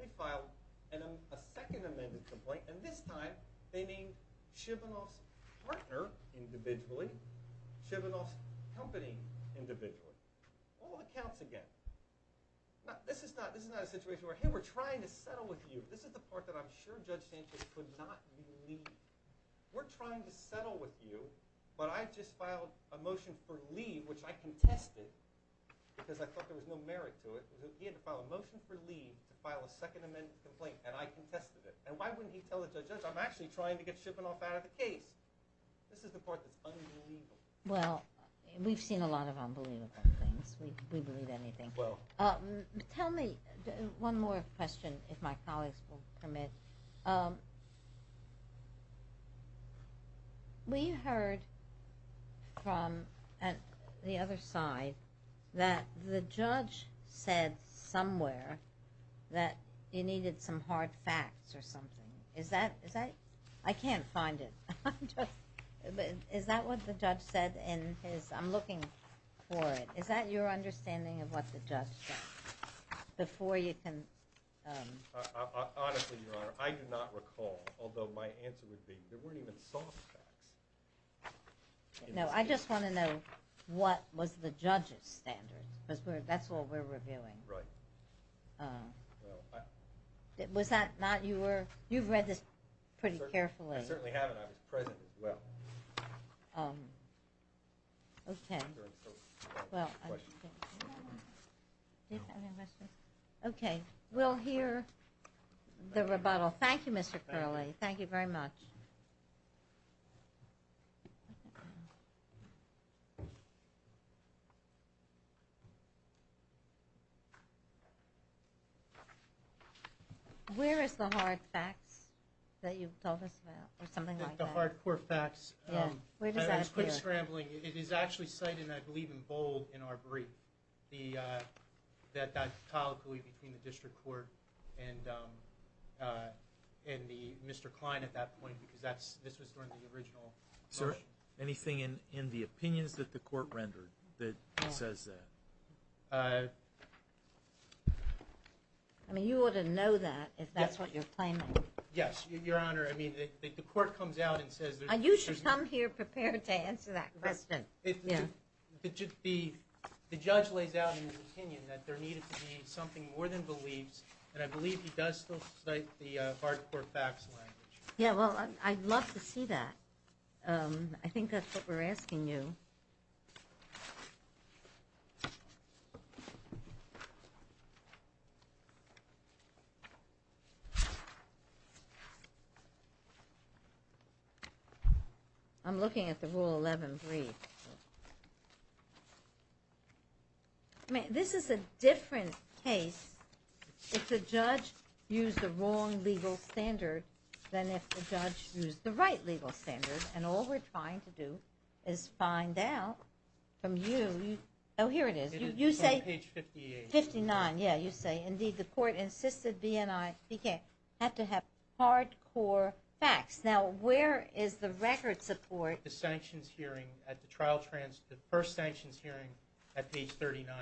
they filed a second amended complaint, and this time they named Shivenoff's partner individually, Shivenoff's company individually. All accounts again. This is not a situation where, hey, we're trying to settle with you. This is the part that I'm sure Judge Sanchez could not believe. We're trying to settle with you, but I just filed a motion for leave, which I contested, because I thought there was no merit to it. He had to file a motion for leave to file a second amended complaint, and I contested it. And why wouldn't he tell the judge, I'm actually trying to get Shivenoff out of the case? This is the part that's unbelievable. Well, we've seen a lot of unbelievable things. We believe anything. Well. Tell me one more question, if my colleagues will permit. We heard from the other side that the judge said somewhere that you needed some hard facts or something. Is that, is that, I can't find it. Is that what the judge said in his, I'm looking for it. Is that your understanding of what the judge said? Before you can. Honestly, Your Honor, I do not recall, although my answer would be there weren't even soft facts. No, I just want to know what was the judge's standard, because that's what we're reviewing. Right. Well, I. Was that not your, you've read this pretty carefully. I certainly haven't. I was present as well. Okay. Well. Okay. We'll hear the rebuttal. Thank you, Mr. Curley. Thank you very much. Where is the hard facts that you've told us about or something like that? The hardcore facts. Yeah. Where does that appear? I'm scrambling. It is actually cited, I believe, in bold in our brief. The, that, that colloquy between the district court and, and the, Mr. Klein at that point, because that's, this was during the original. Sir, anything in, in the opinions that the court rendered that says that. I mean, you ought to know that if that's what you're claiming. Yes, Your Honor. I mean, the court comes out and says. You should come here prepared to answer that question. Yeah. It should be. The judge lays out in his opinion that there needed to be something more than beliefs. And I believe he does still cite the hardcore facts language. Yeah. Well, I'd love to see that. I think that's what we're asking you. I'm looking at the rule 11 brief. I mean, this is a different case if the judge used the wrong legal standard than if the judge used the right legal standard. And all we're trying to do is find out from you. Oh, here it is. You say. Page 58. 59. Yeah, you say. Indeed, the court insisted BNI had to have hardcore facts. Now, where is the record support? The sanctions hearing at the trial trans, the first sanctions hearing at page 39.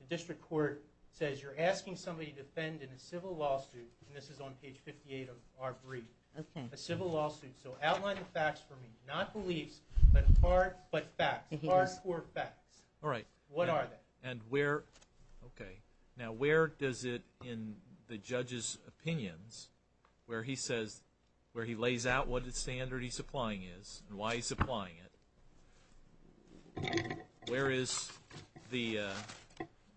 The district court says you're asking somebody to defend in a civil lawsuit. And this is on page 58 of our brief. Okay. A civil lawsuit. So outline the facts for me. Not beliefs, but facts. Hardcore facts. All right. What are they? Okay. Now, where does it in the judge's opinions where he says, where he lays out what the standard he's applying is and why he's applying it, where is the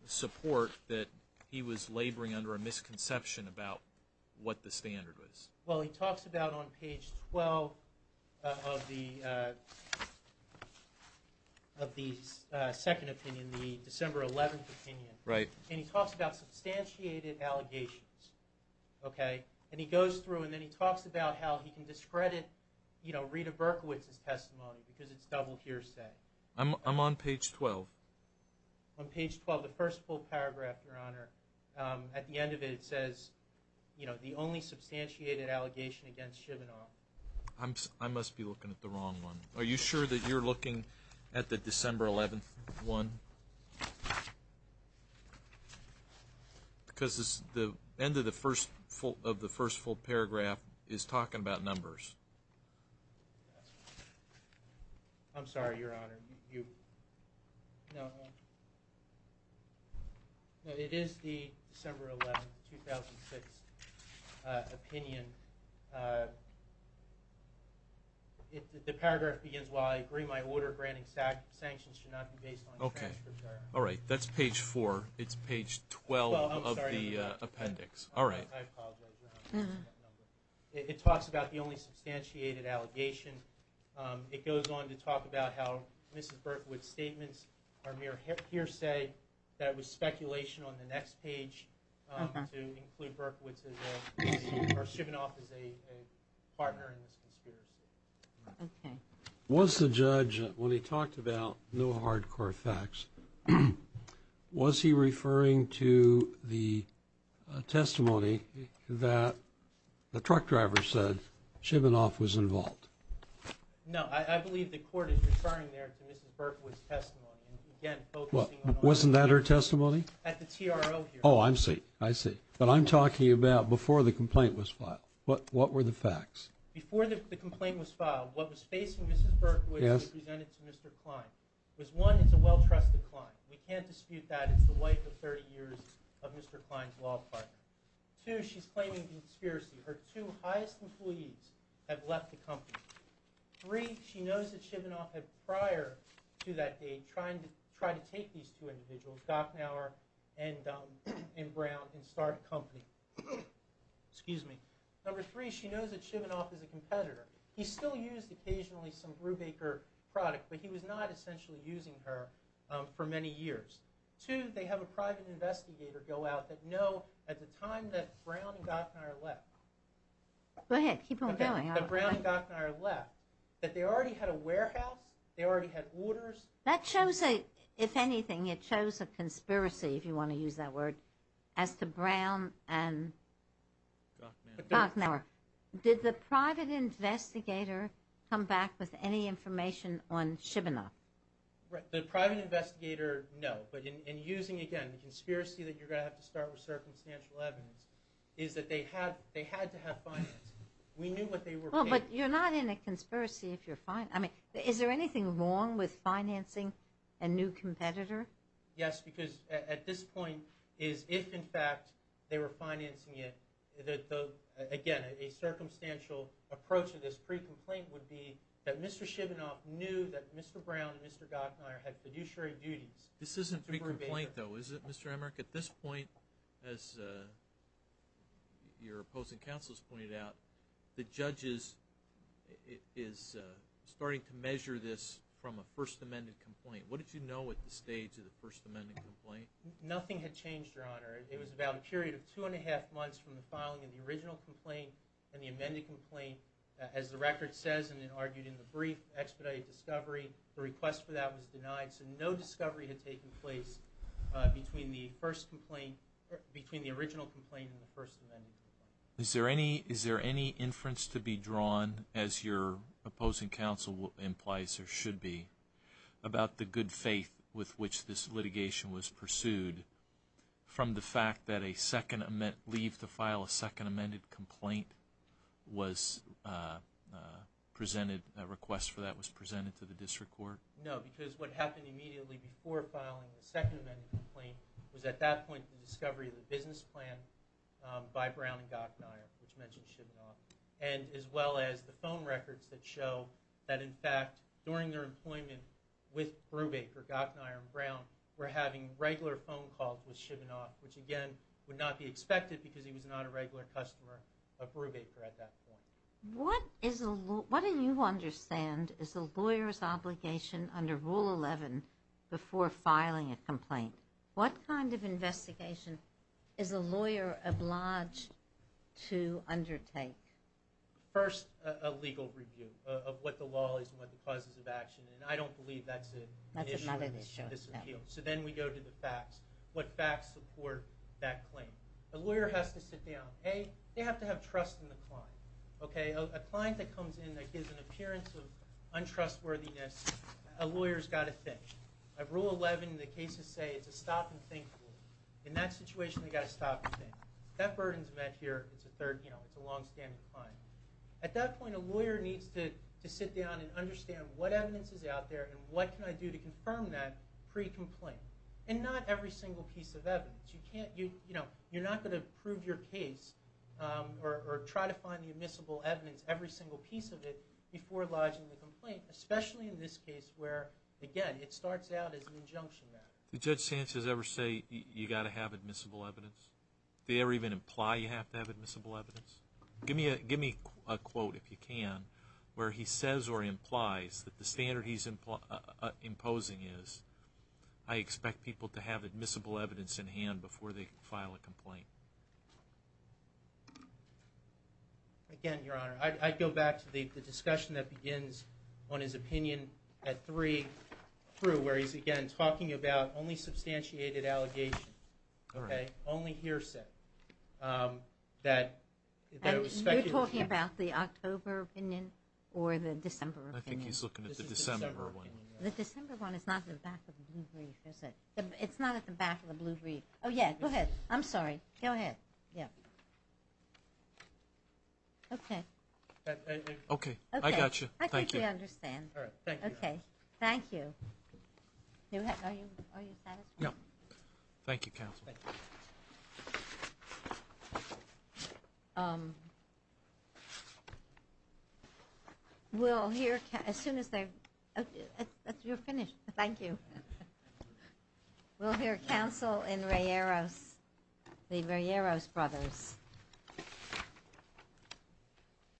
support that he was laboring under a misconception about what the standard was? Well, he talks about on page 12 of the second opinion, the December 11th opinion. Right. And he talks about substantiated allegations. Okay. And he goes through and then he talks about how he can discredit Rita Berkowitz's testimony because it's double hearsay. I'm on page 12. On page 12, the first full paragraph, Your Honor. At the end of it, it says, you know, the only substantiated allegation against Shivenoff. I must be looking at the wrong one. Are you sure that you're looking at the December 11th one? Because the end of the first full paragraph is talking about numbers. I'm sorry, Your Honor. No, it is the December 11th, 2006 opinion. The paragraph begins, while I agree my order granting sanctions should not be based on transcripts. Okay. All right. That's page 4. It's page 12 of the appendix. All right. I apologize, Your Honor. It talks about the only substantiated allegation. It goes on to talk about how Mrs. Berkowitz's statements are mere hearsay, that it was speculation on the next page to include Berkowitz as a, or Shivenoff as a partner in this conspiracy. Okay. Was the judge, when he talked about no hardcore facts, was he referring to the testimony that the truck driver said Shivenoff was involved? No. Wasn't that her testimony? At the TRO here. Oh, I see. I see. But I'm talking about before the complaint was filed. What were the facts? Before the complaint was filed, what was facing Mrs. Berkowitz and presented to Mr. Klein was, one, it's a well-trusted client. We can't dispute that. It's the wife of 30 years of Mr. Klein's law partner. Two, she's claiming conspiracy. Her two highest employees have left the company. Three, she knows that Shivenoff had prior to that date tried to take these two individuals, Gachnauer and Brown, and start a company. Excuse me. Number three, she knows that Shivenoff is a competitor. He still used occasionally some Brubaker product, but he was not essentially using her for many years. Two, they have a private investigator go out that know at the time that Brown and Gachnauer left. Go ahead. Keep on going. Okay, that Brown and Gachnauer left, that they already had a warehouse, they already had orders. That shows a, if anything, it shows a conspiracy, if you want to use that word, as to Brown and Gachnauer. Did the private investigator come back with any information on Shivenoff? The private investigator, no. But in using, again, the conspiracy that you're going to have to start with circumstantial evidence, is that they had to have finance. We knew what they were paying for. Well, but you're not in a conspiracy if you're fine. I mean, is there anything wrong with financing a new competitor? Yes, because at this point is if, in fact, they were financing it, again, a circumstantial approach to this pre-complaint would be that Mr. Shivenoff knew that Mr. Brown and Mr. Gachnauer had fiduciary duties. This isn't pre-complaint, though, is it, Mr. Emmerich? At this point, as your opposing counsel has pointed out, the judge is starting to measure this from a First Amendment complaint. What did you know at the stage of the First Amendment complaint? Nothing had changed, Your Honor. It was about a period of two and a half months from the filing of the original complaint and the amended complaint. As the record says, and it argued in the brief, expedited discovery. The request for that was denied. So no discovery had taken place between the original complaint and the First Amendment complaint. Is there any inference to be drawn, as your opposing counsel implies there should be, about the good faith with which this litigation was pursued from the fact that a second amendment, leave to file a second amended complaint was presented, a request for that was presented to the district court? No, because what happened immediately before filing the second amended complaint was at that point the discovery of the business plan by Brown and Gachnauer, which mentions Shivenoff, and as well as the phone records that show that, in fact, during their employment with Brubaker, Gachnauer and Brown, were having regular phone calls with Shivenoff, which again would not be expected because he was not a regular customer of Brubaker at that point. What do you understand is a lawyer's obligation under Rule 11 before filing a complaint? What kind of investigation is a lawyer obliged to undertake? First, a legal review of what the law is and what the causes of action, and I don't believe that's an issue in this appeal. So then we go to the facts. What facts support that claim? A lawyer has to sit down. A, they have to have trust in the client. A client that comes in that gives an appearance of untrustworthiness, a lawyer's got to think. Under Rule 11, the cases say it's a stop-and-think rule. In that situation, they've got to stop and think. If that burden's met here, it's a longstanding claim. At that point, a lawyer needs to sit down and understand what evidence is out there and what can I do to confirm that pre-complaint, and not every single piece of evidence. You're not going to prove your case or try to find the admissible evidence, every single piece of it, before lodging the complaint, especially in this case where, again, it starts out as an injunction matter. Did Judge Sanchez ever say you've got to have admissible evidence? Did he ever even imply you have to have admissible evidence? Give me a quote, if you can, where he says or implies that the standard he's imposing is, I expect people to have admissible evidence in hand before they file a complaint. Again, Your Honor, I'd go back to the discussion that begins on his opinion at 3 through, where he's, again, talking about only substantiated allegations, only hearsay. You're talking about the October opinion or the December opinion? I think he's looking at the December one. The December one is not at the back of the blue brief, is it? It's not at the back of the blue brief. Oh, yeah, go ahead. I'm sorry. Go ahead. Yeah. Okay. Okay. I got you. Thank you. I think we understand. All right. Thank you, Your Honor. Okay. Thank you. Are you satisfied? Yeah. Thank you, Counsel. Thank you. We'll hear, as soon as they're, you're finished. Thank you. We'll hear counsel in Rieros, the Rieros brothers.